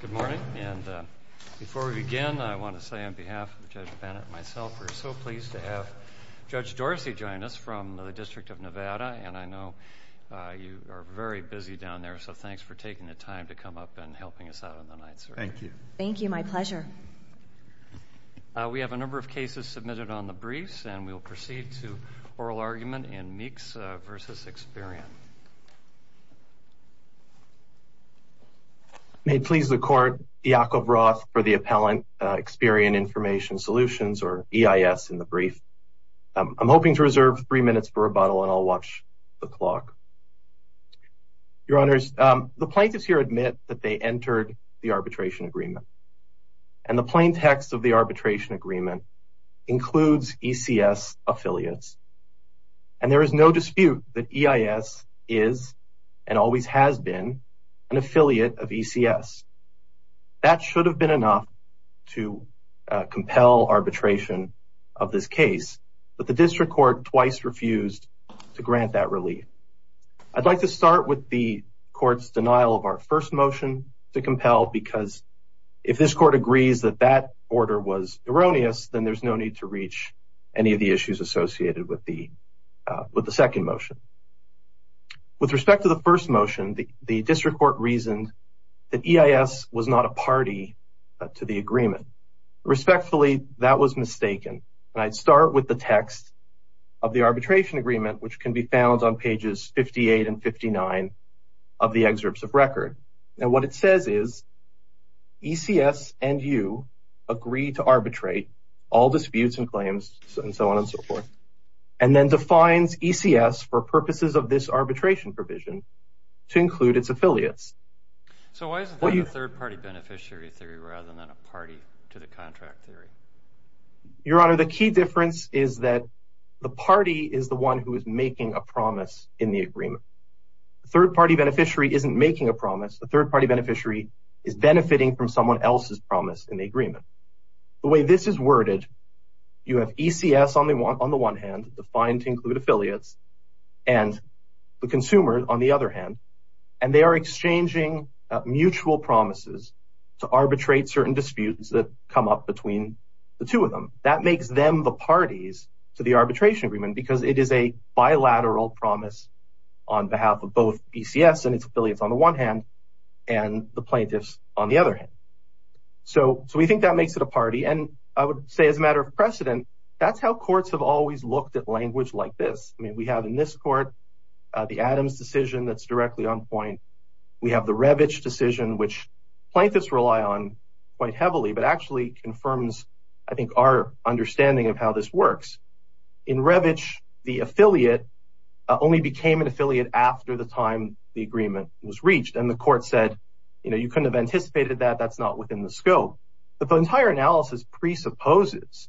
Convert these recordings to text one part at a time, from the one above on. Good morning, and before we begin, I want to say on behalf of Judge Bennett and myself, we're so pleased to have Judge Dorsey join us from the District of Nevada, and I know you are very busy down there, so thanks for taking the time to come up and helping us out on the night search. Thank you. Thank you, my pleasure. We have a number of cases submitted on the briefs, and we'll proceed to oral argument in Meeks v. Experian. May it please the Court, Yakov Roth for the appellant, Experian Information Solutions, or EIS, in the brief. I'm hoping to reserve three minutes for rebuttal, and I'll watch the clock. Your Honors, the plaintiffs here admit that they entered the arbitration agreement, and the plain text of the arbitration agreement includes ECS affiliates, and there is no dispute that EIS is, and always has been, an affiliate of ECS. That should have been enough to compel arbitration of this case, but the District Court twice refused to grant that relief. I'd like to start with the Court's denial of our first motion to compel, because if this Court agrees that that order was erroneous, then there's no need to reach any of the issues associated with the second motion. With respect to the first motion, the District Court reasoned that EIS was not a party to the agreement. Respectfully, that was mistaken, and I'd start with the text of the arbitration agreement, which can be found on pages 58 and 59 of the excerpts of record. Now, what it says is, ECS and you agree to arbitrate all disputes and claims, and so on and so forth, and then defines ECS for purposes of this arbitration provision to include its affiliates. So, why is it called a third-party beneficiary theory rather than a party to the contract theory? Your Honor, the key difference is that the party is the one who is making a promise in the agreement. The third-party beneficiary isn't making a promise. The third-party beneficiary is benefiting from someone else's promise in the agreement. The way this is worded, you have ECS on the one hand, defined to include affiliates, and the consumer on the other hand, and they are exchanging mutual promises to arbitrate certain disputes that come up between the two of them. That makes them the parties to the arbitration agreement, because it is a bilateral promise on behalf of both ECS and its affiliates on the one hand, and the plaintiffs on the other hand. So, we think that makes it a party, and I would say as a matter of precedent, that's how courts have always looked at language like this. I mean, we have in this court the Adams decision that's directly on point. We have the Revich decision, which plaintiffs rely on quite heavily, but actually confirms, I think, our understanding of how this works. In Revich, the affiliate only became an affiliate after the time the agreement was reached, and the court said, you know, you couldn't have anticipated that, that's not within the scope. But the entire analysis presupposes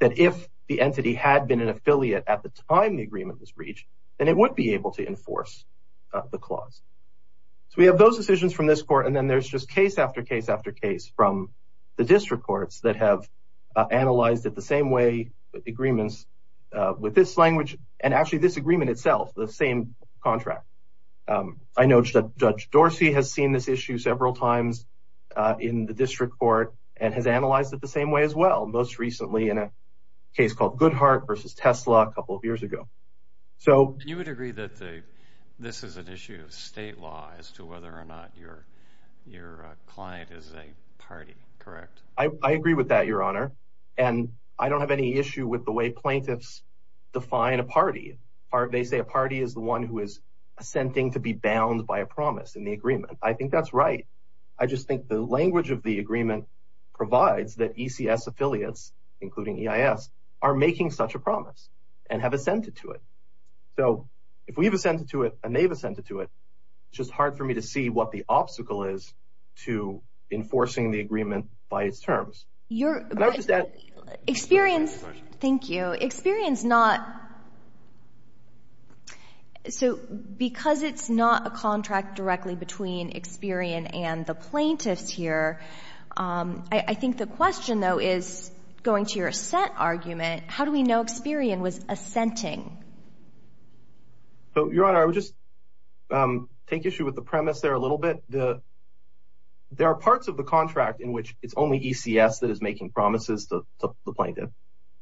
that if the entity had been an affiliate at the time the agreement was reached, then it would be able to enforce the clause. So, we have those decisions from this court, and then there's just case after case after with this language, and actually this agreement itself, the same contract. I know Judge Dorsey has seen this issue several times in the district court and has analyzed it the same way as well, most recently in a case called Goodhart versus Tesla a couple of years ago. So... You would agree that this is an issue of state law as to whether or not your client is a party, correct? I agree with that, Your Honor, and I don't have any issue with the way plaintiffs define a party. They say a party is the one who is assenting to be bound by a promise in the agreement. I think that's right. I just think the language of the agreement provides that ECS affiliates, including EIS, are making such a promise and have assented to it. So, if we've assented to it and they've assented to it, it's just hard for me to see what the Your... Experience... Thank you. Experience not... So, because it's not a contract directly between Experian and the plaintiffs here, I think the question, though, is, going to your assent argument, how do we know Experian was assenting? So, Your Honor, I would just take issue with the premise there a little bit. There are parts of the contract in which it's only ECS that is making promises to the plaintiff,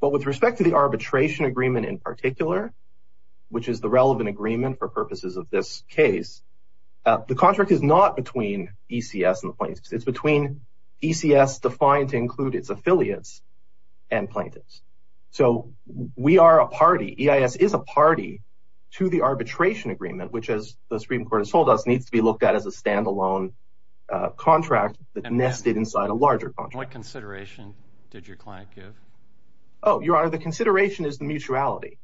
but with respect to the arbitration agreement in particular, which is the relevant agreement for purposes of this case, the contract is not between ECS and the plaintiffs. It's between ECS defined to include its affiliates and plaintiffs. So, we are a party. EIS is a party to the arbitration agreement, which, as the Supreme Court has told us, needs to be looked at as a standalone contract that nested inside a larger contract. What consideration did your client give? Oh, Your Honor, the consideration is the mutuality,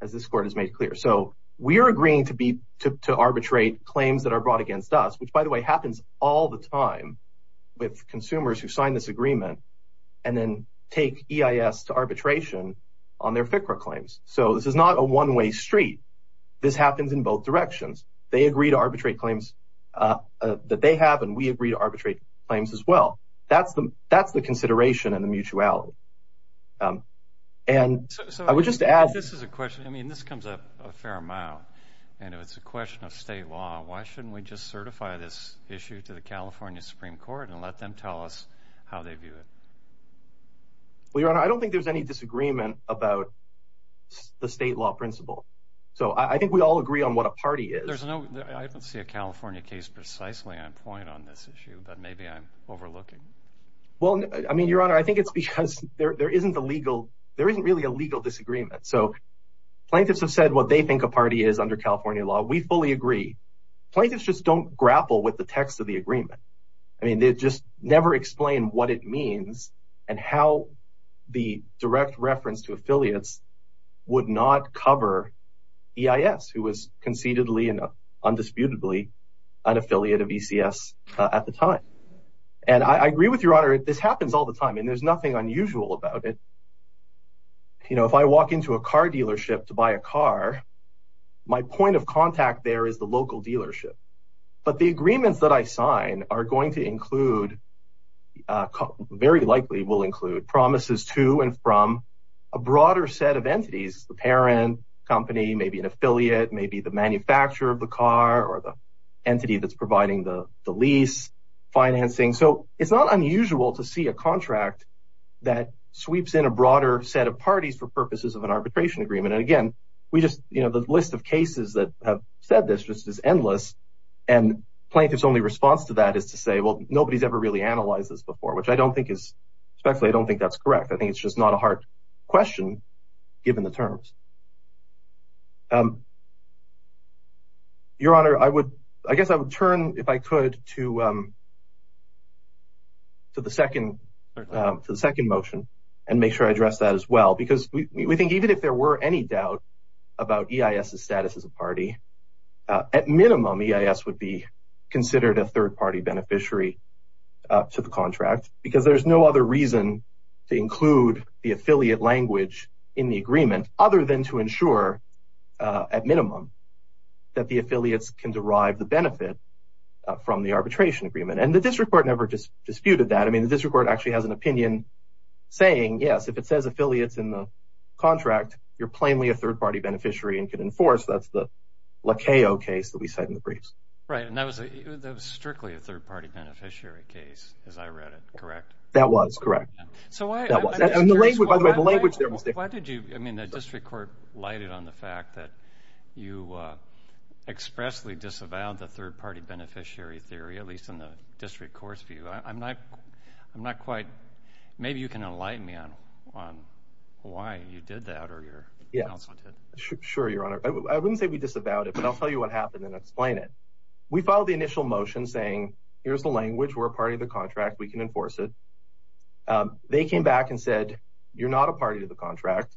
as this Court has made clear. So, we are agreeing to arbitrate claims that are brought against us, which, by the way, happens all the time with consumers who sign this agreement and then take EIS to arbitration on their FCRA claims. So, this is not a one-way street. This happens in both directions. They agree to arbitrate claims that they have, and we agree to arbitrate claims as well. That's the consideration and the mutuality. So, if this is a question, I mean, this comes up a fair amount, and if it's a question of state law, why shouldn't we just certify this issue to the California Supreme Court and let them tell us how they view it? Well, Your Honor, I don't think there's any disagreement about the state law principle. So, I think we all agree on what a party is. I don't see a California case precisely on point on this issue, but maybe I'm overlooking. Well, I mean, Your Honor, I think it's because there isn't really a legal disagreement. So, plaintiffs have said what they think a party is under California law. We fully agree. Plaintiffs just don't grapple with the text of the agreement. I mean, they just never explain what it means and how the direct reference to affiliates would not cover EIS, who was concededly and undisputedly an affiliate of ECS at the time. And I agree with Your Honor. This happens all the time, and there's nothing unusual about it. You know, if I walk into a car dealership to buy a car, my point of contact there is the local dealership. But the agreements that I sign are going to include, very likely will include, promises to and from a broader set of entities, the parent company, maybe an affiliate, maybe the manufacturer of the car or the entity that's providing the lease financing. So, it's not unusual to see a contract that sweeps in a broader set of parties for purposes of an arbitration agreement. And again, we just, you know, the list of cases that have said this just is endless. And plaintiffs' only response to that is to say, well, nobody's ever really analyzed this before, which I don't think is, especially I don't think that's correct. I think it's just not a hard question, given the terms. Your Honor, I would, I guess I would turn, if I could, to the second motion and make sure I address that as well. Because we think even if there were any doubt about EIS's status as a party, at minimum EIS would be considered a third-party beneficiary to the contract. Because there's no other reason to include the affiliate language in the agreement other than to ensure, at minimum, that the affiliates can derive the benefit from the arbitration agreement. And the district court never disputed that. I mean, the district court actually has an opinion saying, yes, if it says affiliates in the contract, you're plainly a third-party beneficiary and can enforce. That's the Lacayo case that we said in the briefs. Right. And that was strictly a third-party beneficiary case, as I read it. Correct? That was. Correct. That was. By the way, the language there was different. Why did you, I mean, the district court lighted on the fact that you expressly disavowed the third-party beneficiary theory, at least in the district court's view. I'm not quite, maybe you can enlighten me on why you did that or your counsel did. Sure, Your Honor. I wouldn't say we disavowed it, but I'll tell you what happened and explain it. We filed the initial motion saying, here's the language, we're a party to the contract, we can enforce it. They came back and said, you're not a party to the contract,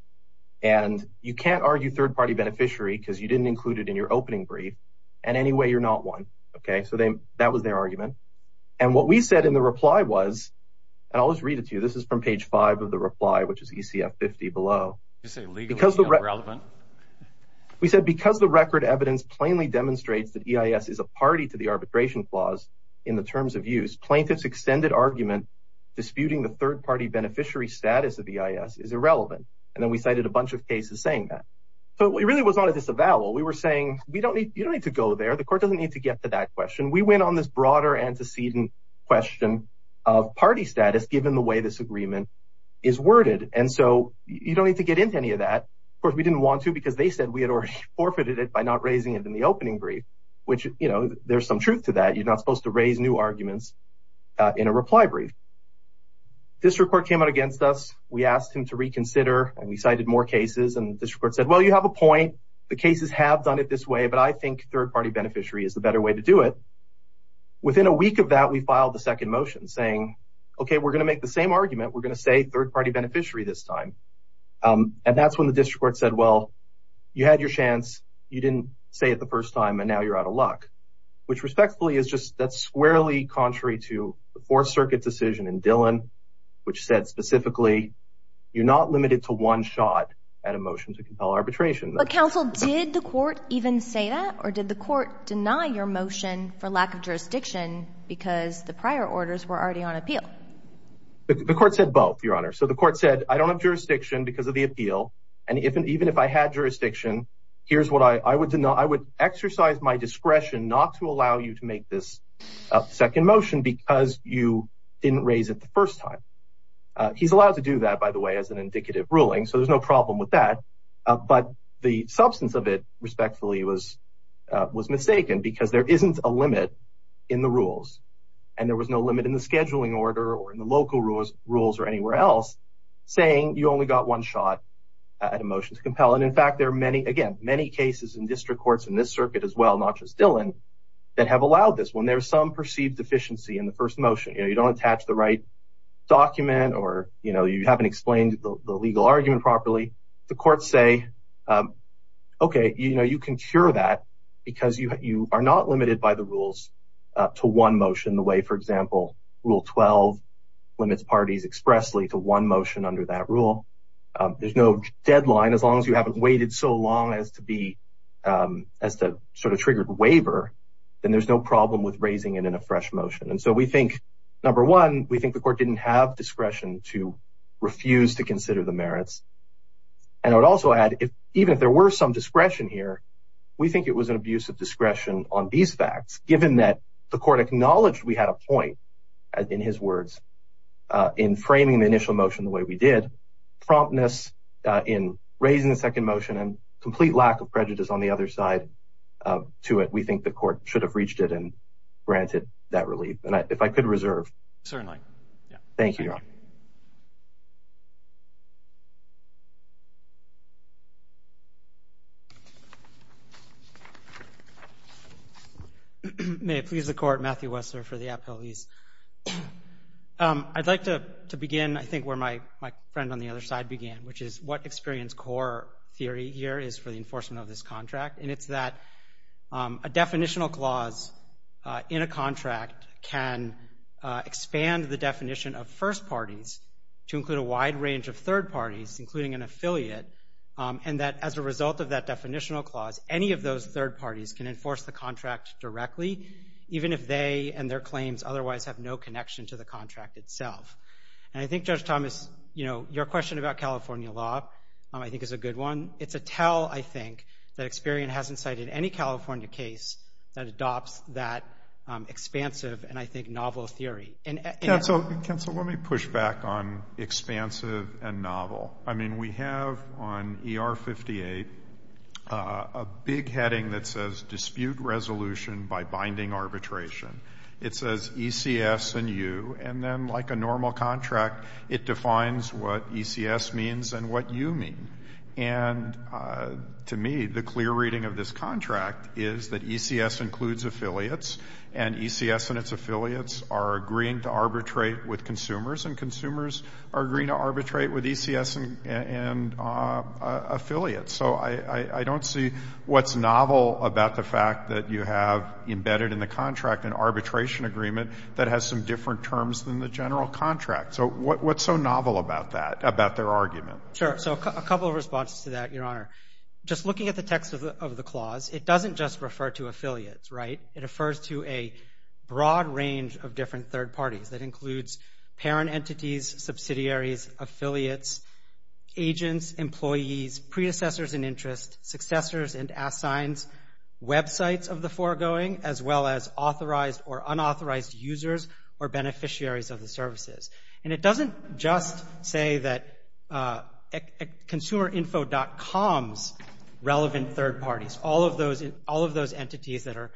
and you can't argue third-party beneficiary because you didn't include it in your opening brief, and anyway, you're not one. Okay. So that was their argument. And what we said in the reply was, and I'll just read it to you, this is from page five of the reply, which is ECF 50 below. Did you say legally irrelevant? We said, because the record evidence plainly demonstrates that EIS is a party to the arbitration clause in the terms of use, plaintiff's extended argument disputing the third-party beneficiary status of EIS is irrelevant, and then we cited a bunch of cases saying that. So it really was not a disavowal. We were saying, you don't need to go there. The court doesn't need to get to that question. We went on this broader antecedent question of party status given the way this agreement is worded. And so you don't need to get into any of that. Of course, we didn't want to because they said we had already forfeited it by not raising it in the opening brief, which, you know, there's some truth to that. You're not supposed to raise new arguments in a reply brief. District court came out against us. We asked him to reconsider, and we cited more cases, and district court said, well, you have a point. The cases have done it this way, but I think third-party beneficiary is the better way to do it. Within a week of that, we filed the second motion saying, okay, we're going to make the same argument. We're going to say third-party beneficiary this time. And that's when the district court said, well, you had your chance. You didn't say it the first time, and now you're out of luck, which respectfully is just that's squarely contrary to the Fourth Circuit decision in Dillon, which said specifically you're not limited to one shot at a motion to compel arbitration. But, counsel, did the court even say that, or did the court deny your motion for lack of jurisdiction because the prior orders were already on appeal? The court said both, Your Honor. So the court said, I don't have jurisdiction because of the appeal, and even if I had jurisdiction, here's what I would deny. I would exercise my discretion not to allow you to make this second motion because you didn't raise it the first time. He's allowed to do that, by the way, as an indicative ruling, so there's no problem with that. But the substance of it, respectfully, was mistaken because there isn't a limit in the local rules or anywhere else saying you only got one shot at a motion to compel. And, in fact, there are many, again, many cases in district courts in this circuit as well, not just Dillon, that have allowed this when there's some perceived deficiency in the first motion. You don't attach the right document or you haven't explained the legal argument properly. The courts say, okay, you can cure that because you are not limited by the rules to one motion in the way, for example, Rule 12 limits parties expressly to one motion under that rule. There's no deadline. As long as you haven't waited so long as to sort of trigger a waiver, then there's no problem with raising it in a fresh motion. And so we think, number one, we think the court didn't have discretion to refuse to consider the merits. And I would also add, even if there were some discretion here, we think it was an abuse of discretion on these facts, given that the court acknowledged we had a point, in his words, in framing the initial motion the way we did, promptness in raising the second motion, and complete lack of prejudice on the other side to it. We think the court should have reached it and granted that relief. And if I could reserve. Certainly. Thank you, Your Honor. May it please the Court, Matthew Wessler for the appellees. I'd like to begin, I think, where my friend on the other side began, which is what experience core theory here is for the enforcement of this contract. And it's that a definitional clause in a contract can expand the definition of first parties to include a wide range of third parties, including an affiliate, and that as a result of that definitional clause, any of those third parties can enforce the contract directly, even if they and their claims otherwise have no connection to the contract itself. And I think, Judge Thomas, you know, your question about California law, I think, is a good one. It's a tell, I think, that Experian hasn't cited any California case that adopts that expansive and, I think, novel theory. Counsel, let me push back on expansive and novel. I mean, we have on ER 58 a big heading that says dispute resolution by binding arbitration. It says ECS and you, and then like a normal contract, it defines what ECS means and what you mean. And to me, the clear reading of this contract is that ECS includes affiliates, and ECS and its affiliates are agreeing to arbitrate with consumers, and consumers are agreeing to arbitrate with ECS and affiliates. So I don't see what's novel about the fact that you have embedded in the contract an arbitration agreement that has some different terms than the general contract. So what's so novel about that, about their argument? Sure. So a couple of responses to that, Your Honor. Just looking at the text of the clause, it doesn't just refer to affiliates, right? It refers to a broad range of different third parties. That includes parent entities, subsidiaries, affiliates, agents, employees, predecessors and interests, successors and assigns, websites of the foregoing, as well as authorized or unauthorized users or beneficiaries of the services. And it doesn't just say that consumerinfo.com's relevant third parties, all of those entities that are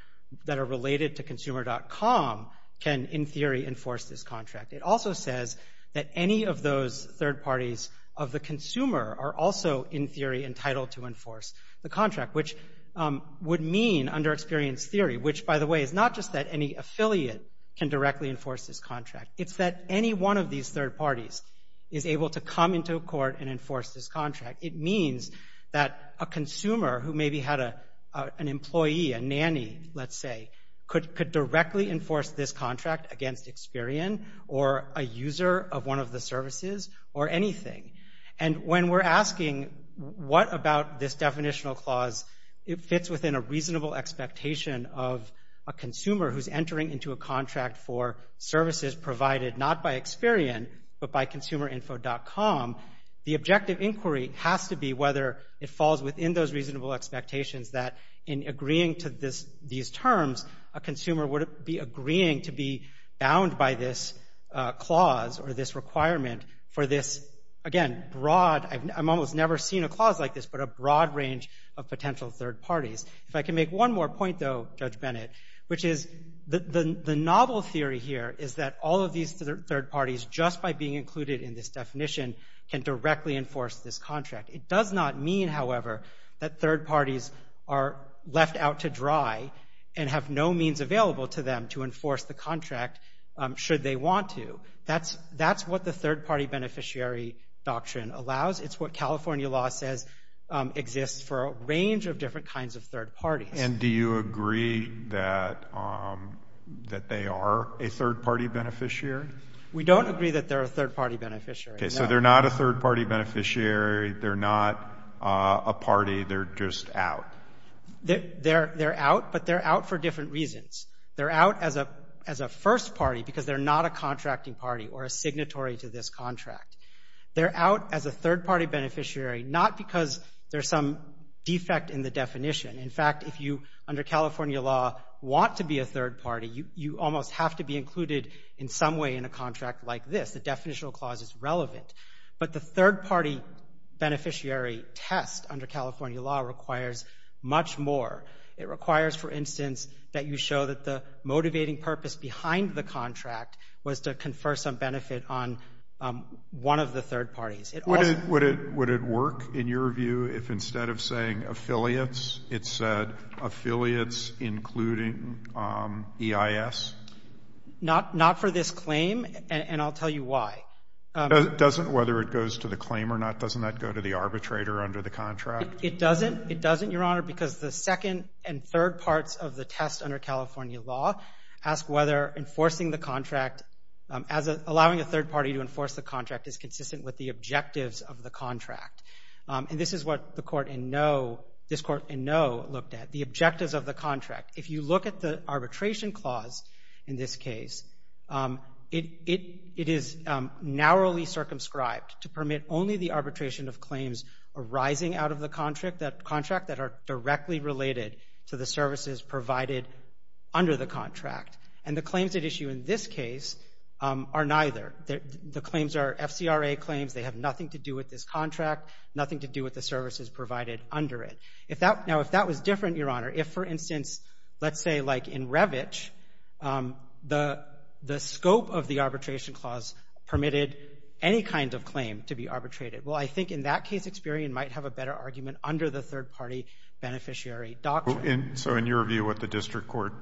related to consumer.com can, in theory, enforce this contract. It also says that any of those third parties of the consumer are also, in theory, entitled to enforce the contract, which would mean, under experience theory, which, by the way, is not just that any affiliate can directly enforce this contract. It's that any one of these third parties is able to come into a court and enforce this contract. It means that a consumer who maybe had an employee, a nanny, let's say, could directly enforce this contract against Experian or a user of one of the services or anything. And when we're asking what about this definitional clause, it fits within a reasonable expectation of a consumer who's entering into a contract for services provided not by Experian but by consumerinfo.com. The objective inquiry has to be whether it falls within those reasonable expectations that, in agreeing to these terms, a consumer would be agreeing to be bound by this clause or this requirement for this, again, broad—I've almost never seen a clause like this—but a broad range of potential third parties. If I can make one more point, though, Judge Bennett, which is the novel theory here is that all of these third parties, just by being included in this definition, can directly enforce this contract. It does not mean, however, that third parties are left out to dry and have no means available to them to enforce the contract should they want to. That's what the third-party beneficiary doctrine allows. It's what California law says exists for a range of different kinds of third parties. And do you agree that they are a third-party beneficiary? We don't agree that they're a third-party beneficiary, no. Okay, so they're not a third-party beneficiary. They're not a party. They're just out. They're out, but they're out for different reasons. They're out as a first party because they're not a contracting party or a signatory to this contract. They're out as a third-party beneficiary not because there's some defect in the definition. In fact, if you, under California law, want to be a third party, you almost have to be included in some way in a contract like this. The definitional clause is relevant. But the third-party beneficiary test under California law requires much more. It requires, for instance, that you show that the motivating purpose behind the contract was to confer some benefit on one of the third parties. Would it work, in your view, if instead of saying affiliates, it said affiliates including EIS? Not for this claim, and I'll tell you why. Doesn't whether it goes to the claim or not, doesn't that go to the arbitrator under the contract? It doesn't, Your Honor, because the second and third parts of the test under California law ask whether enforcing the contract, allowing a third party to enforce the contract is consistent with the objectives of the contract. And this is what this Court in No looked at, the objectives of the contract. If you look at the arbitration clause in this case, it is narrowly circumscribed to permit only the arbitration of claims arising out of the contract that are directly related to the services provided under the contract. And the claims at issue in this case are neither. The claims are FCRA claims. They have nothing to do with this contract, nothing to do with the services provided under it. Now, if that was different, Your Honor, if, for instance, let's say like in Revitch, the scope of the arbitration clause permitted any kind of claim to be arbitrated, well, I think in that case, Experian might have a better argument under the third party beneficiary doctrine. So in your view, what the district court,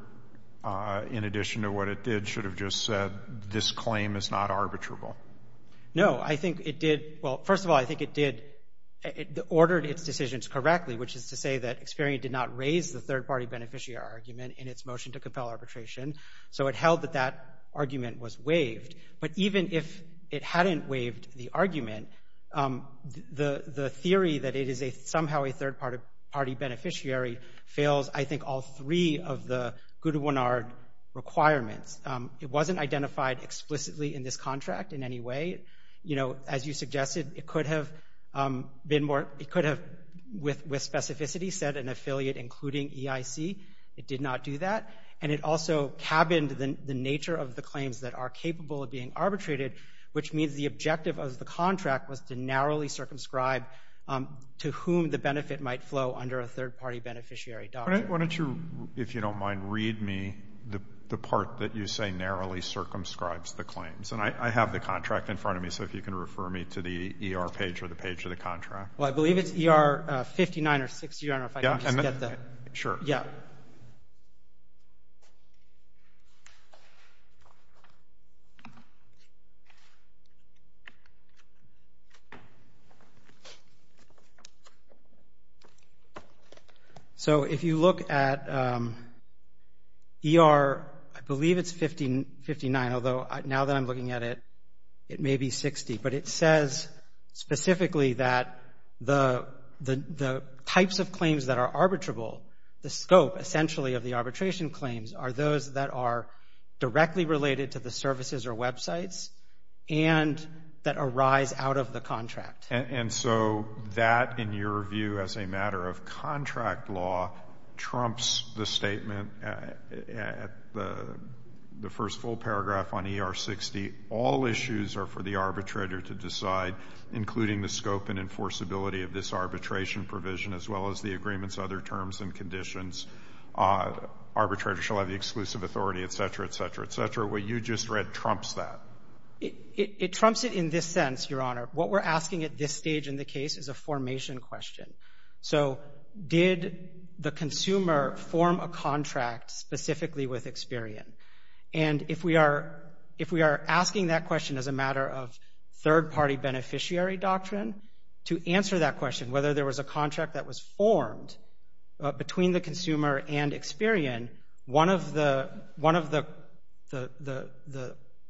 in addition to what it did, should have just said this claim is not arbitrable? No. I think it did, well, first of all, I think it did, it ordered its decisions correctly, which is to say that Experian did not raise the third party beneficiary argument in its motion to compel arbitration. So it held that that argument was waived. But even if it hadn't waived the argument, the theory that it is somehow a third party beneficiary fails, I think, all three of the Goodwinard requirements. It wasn't identified explicitly in this contract in any way. You know, as you suggested, it could have been more, it could have, with specificity, said an affiliate including EIC. It did not do that. And it also cabined the nature of the claims that are capable of being arbitrated, which means the objective of the contract was to narrowly circumscribe to whom the benefit might flow under a third party beneficiary doctrine. Why don't you, if you don't mind, read me the part that you say narrowly circumscribes the claims. And I have the contract in front of me, so if you can refer me to the ER page or the page of the contract. Well, I believe it's ER 59 or 60. I don't know if I can just get the... Yeah, sure. Yeah. So if you look at ER, I believe it's 59, although now that I'm looking at it, it may be 60. But it says specifically that the types of claims that are arbitrable, the scope essentially of the arbitration claims, are those that are directly related to the services or websites and that arise out of the contract. And so that, in your view, as a matter of contract law, trumps the statement at the first full paragraph on ER 60, all issues are for the arbitrator to decide, including the scope and enforceability of this arbitration provision, as well as the agreements, other terms and conditions. Arbitrator shall have the exclusive authority, et cetera, et cetera, et cetera. What you just read trumps that. It trumps it in this sense, Your Honor. What we're asking at this stage in the case is a formation question. So did the consumer form a contract specifically with Experian? And if we are asking that question as a matter of third-party beneficiary doctrine, to answer that question, whether there was a contract that was formed between the consumer and Experian, one of the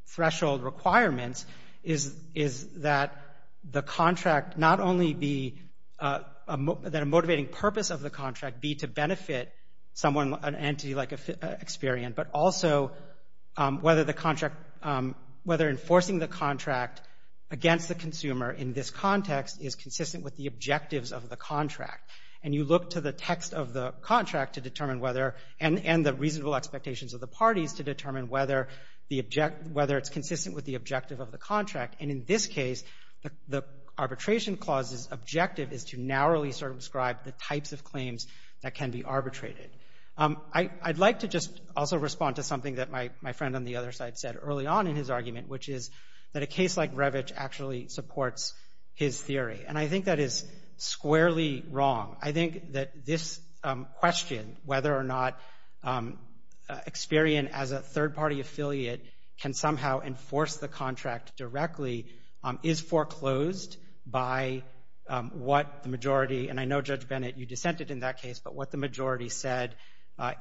threshold requirements is that the contract not only be, that a motivating purpose of the contract be to benefit someone, an entity like Experian, but also whether enforcing the contract against the consumer in this context is consistent with the objectives of the contract. And you look to the text of the contract to determine whether, and the reasonable expectations of the parties to determine whether it's consistent with the objective of the contract. And in this case, the arbitration clause's objective is to narrowly circumscribe the types of claims that can be arbitrated. I'd like to just also respond to something that my friend on the other side said early on in his argument, which is that a case like Revitch actually supports his theory. And I think that is squarely wrong. I think that this question, whether or not Experian, as a third-party affiliate, can somehow enforce the contract directly, is foreclosed by what the majority, and I know, Judge Bennett, you dissented in that case, but what the majority said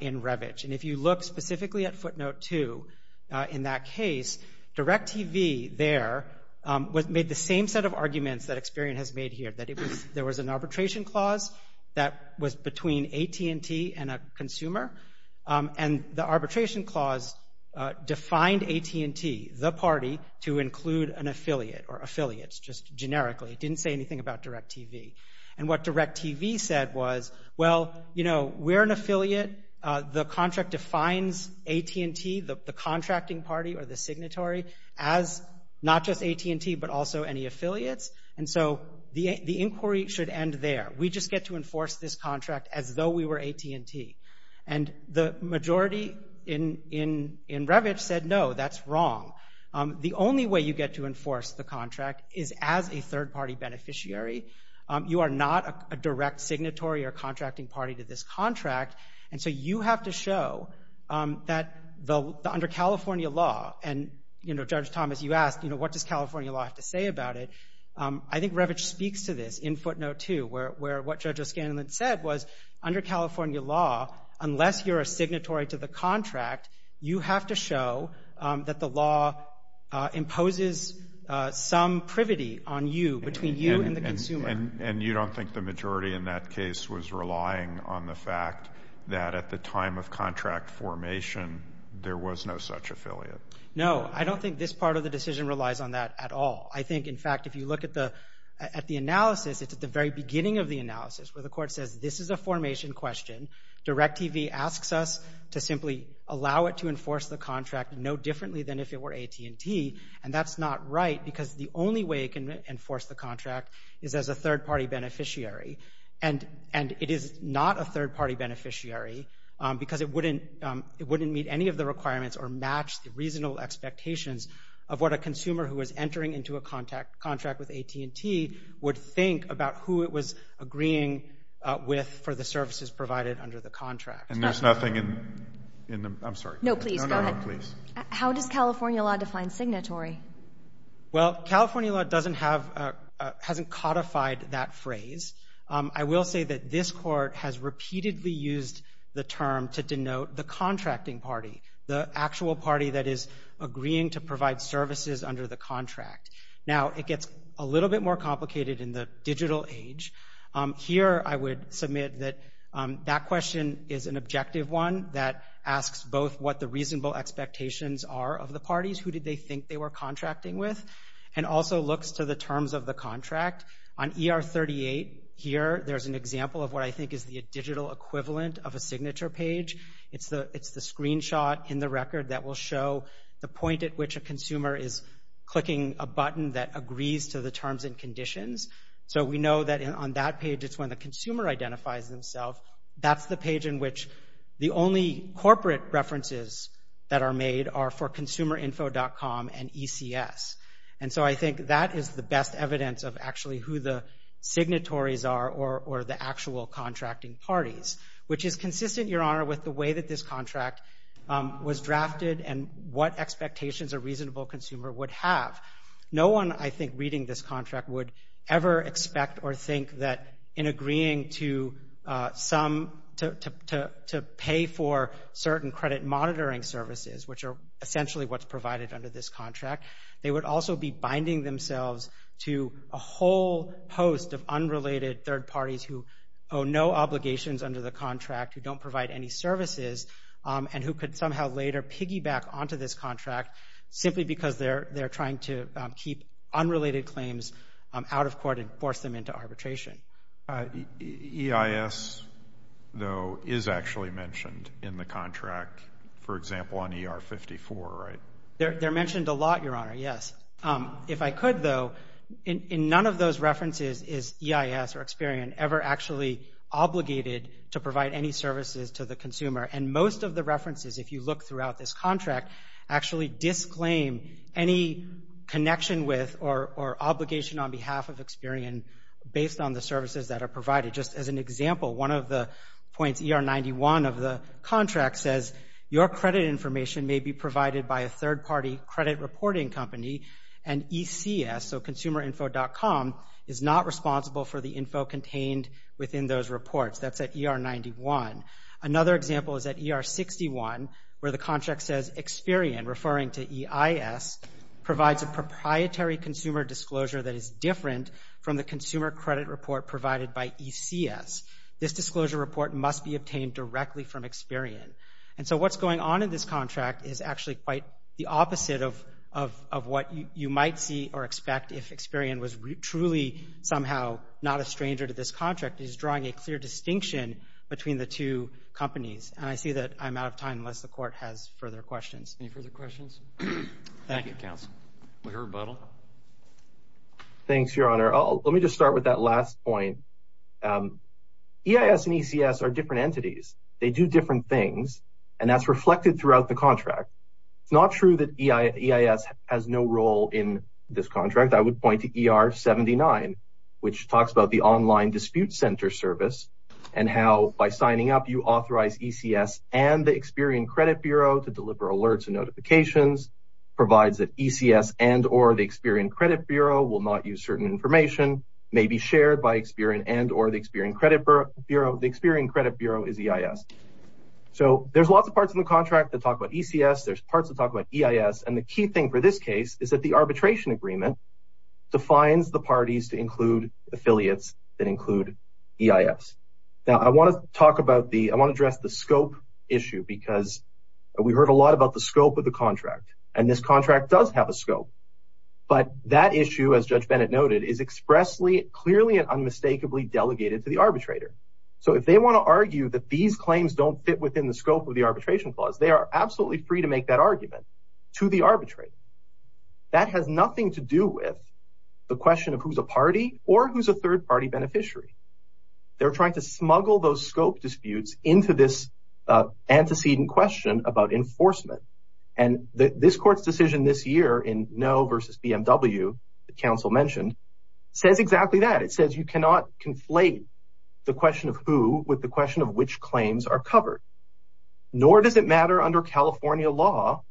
in Revitch. And if you look specifically at footnote 2 in that case, DirecTV there made the same set of arguments that Experian has made here, that there was an arbitration clause that was between AT&T and a consumer, and the arbitration clause defined AT&T, the party, to include an affiliate or affiliates, just generically. It didn't say anything about DirecTV. And what DirecTV said was, well, you know, we're an affiliate. The contract defines AT&T, the contracting party or the signatory, as not just AT&T but also any affiliates. And so the inquiry should end there. We just get to enforce this contract as though we were AT&T. And the majority in Revitch said, no, that's wrong. The only way you get to enforce the contract is as a third-party beneficiary. You are not a direct signatory or contracting party to this contract, and so you have to show that under California law, and, you know, Judge Thomas, you asked, you know, what does California law have to say about it. I think Revitch speaks to this in footnote two, where what Judge O'Scanlan said was under California law, unless you're a signatory to the contract, you have to show that the law imposes some privity on you, between you and the consumer. And you don't think the majority in that case was relying on the fact that at the time of contract formation there was no such affiliate? No, I don't think this part of the decision relies on that at all. I think, in fact, if you look at the analysis, it's at the very beginning of the analysis where the court says this is a formation question, DIRECTV asks us to simply allow it to enforce the contract no differently than if it were AT&T, and that's not right because the only way it can enforce the contract is as a third-party beneficiary. And it is not a third-party beneficiary because it wouldn't meet any of the requirements or match the reasonable expectations of what a consumer who was entering into a contract with AT&T would think about who it was agreeing with for the services provided under the contract. And there's nothing in the – I'm sorry. No, please, go ahead. No, no, no, please. How does California law define signatory? Well, California law doesn't have – hasn't codified that phrase. I will say that this court has repeatedly used the term to denote the contracting party, the actual party that is agreeing to provide services under the contract. Now, it gets a little bit more complicated in the digital age. Here I would submit that that question is an objective one that asks both what the and also looks to the terms of the contract. On ER38 here, there's an example of what I think is the digital equivalent of a signature page. It's the screenshot in the record that will show the point at which a consumer is clicking a button that agrees to the terms and conditions. So we know that on that page it's when the consumer identifies themselves. That's the page in which the only corporate references that are made are for And so I think that is the best evidence of actually who the signatories are or the actual contracting parties, which is consistent, Your Honor, with the way that this contract was drafted and what expectations a reasonable consumer would have. No one, I think, reading this contract would ever expect or think that in agreeing to pay for certain credit monitoring services, which are essentially what's They would also be binding themselves to a whole host of unrelated third parties who owe no obligations under the contract, who don't provide any services, and who could somehow later piggyback onto this contract simply because they're trying to keep unrelated claims out of court and force them into arbitration. EIS, though, is actually mentioned in the contract, for example, on ER54, right? They're mentioned a lot, Your Honor, yes. If I could, though, none of those references is EIS or Experian ever actually obligated to provide any services to the consumer, and most of the references, if you look throughout this contract, actually disclaim any connection with or obligation on behalf of Experian based on the services that are provided. Just as an example, one of the points, ER91 of the contract, says, Your credit information may be provided by a third-party credit reporting company, and ECS, so consumerinfo.com, is not responsible for the info contained within those reports. That's at ER91. Another example is at ER61, where the contract says Experian, referring to EIS, provides a proprietary consumer disclosure that is different from the consumer credit report provided by ECS. This disclosure report must be obtained directly from Experian. And so what's going on in this contract is actually quite the opposite of what you might see or expect if Experian was truly somehow not a stranger to this contract. It is drawing a clear distinction between the two companies, and I see that I'm out of time unless the Court has further questions. Any further questions? Thank you, counsel. We have a rebuttal. Thanks, Your Honor. Let me just start with that last point. EIS and ECS are different entities. They do different things, and that's reflected throughout the contract. It's not true that EIS has no role in this contract. I would point to ER79, which talks about the online dispute center service and how by signing up you authorize ECS and the Experian Credit Bureau to deliver alerts and notifications, provides that ECS and or the Experian Credit Bureau will not use certain information, may be shared by Experian and or the Experian Credit Bureau. The Experian Credit Bureau is EIS. So there's lots of parts in the contract that talk about ECS. There's parts that talk about EIS, and the key thing for this case is that the arbitration agreement defines the parties to include affiliates that include EIS. Now, I want to address the scope issue because we heard a lot about the scope of the contract, and this contract does have a scope, but that issue, as Judge Bennett noted, is expressly, clearly, and unmistakably delegated to the arbitrator. So if they want to argue that these claims don't fit within the scope of the arbitration clause, they are absolutely free to make that argument to the arbitrator. That has nothing to do with the question of who's a party or who's a third-party beneficiary. They're trying to smuggle those scope disputes into this antecedent question about enforcement. This court's decision this year in Noe v. BMW, the counsel mentioned, says exactly that. It says you cannot conflate the question of who with the question of which claims are covered. Nor does it matter under California law,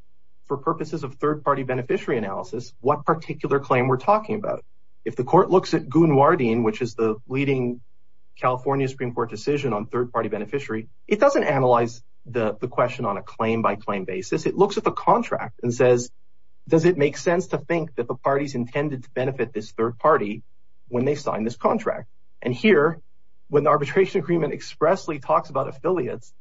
for purposes of third-party beneficiary analysis, what particular claim we're talking about. If the court looks at Goonwardine, which is the leading California Supreme Court decision on third-party beneficiary, it doesn't analyze the question on a claim-by-claim basis. It looks at the contract and says, does it make sense to think that the party's intended to benefit this third party when they sign this contract? And here, when the arbitration agreement expressly talks about affiliates,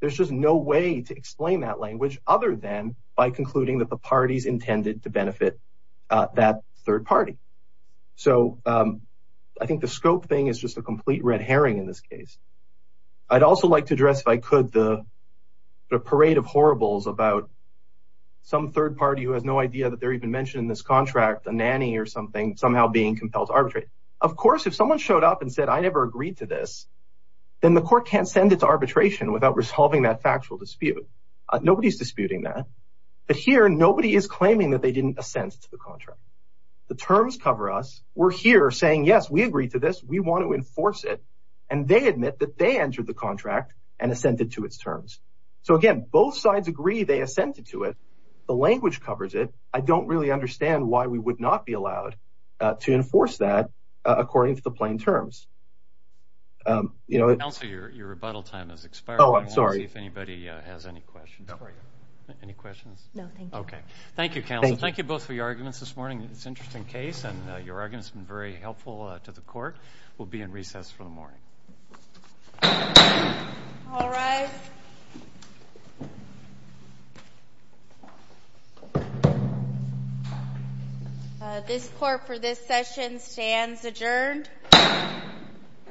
there's just no way to explain that language other than by concluding that the party's intended to benefit that third party. So I think the scope thing is just a complete red herring in this case. I'd also like to address, if I could, the parade of horribles about some third party who has no idea that they're even mentioned in this contract, a nanny or something, somehow being compelled to arbitrate. Of course, if someone showed up and said, I never agreed to this, then the court can't send it to arbitration without resolving that factual dispute. Nobody's disputing that. But here, nobody is claiming that they didn't assent to the contract. The terms cover us. We're here saying, yes, we agreed to this. We want to enforce it. And they admit that they entered the contract and assented to its terms. So, again, both sides agree they assented to it. The language covers it. I don't really understand why we would not be allowed to enforce that according to the plain terms. Counsel, your rebuttal time has expired. Oh, I'm sorry. I want to see if anybody has any questions for you. Any questions? No, thank you. Okay. Thank you, counsel. Thank you both for your arguments this morning. It's an interesting case, and your argument has been very helpful to the court. We'll be in recess for the morning. All rise. This court for this session stands adjourned.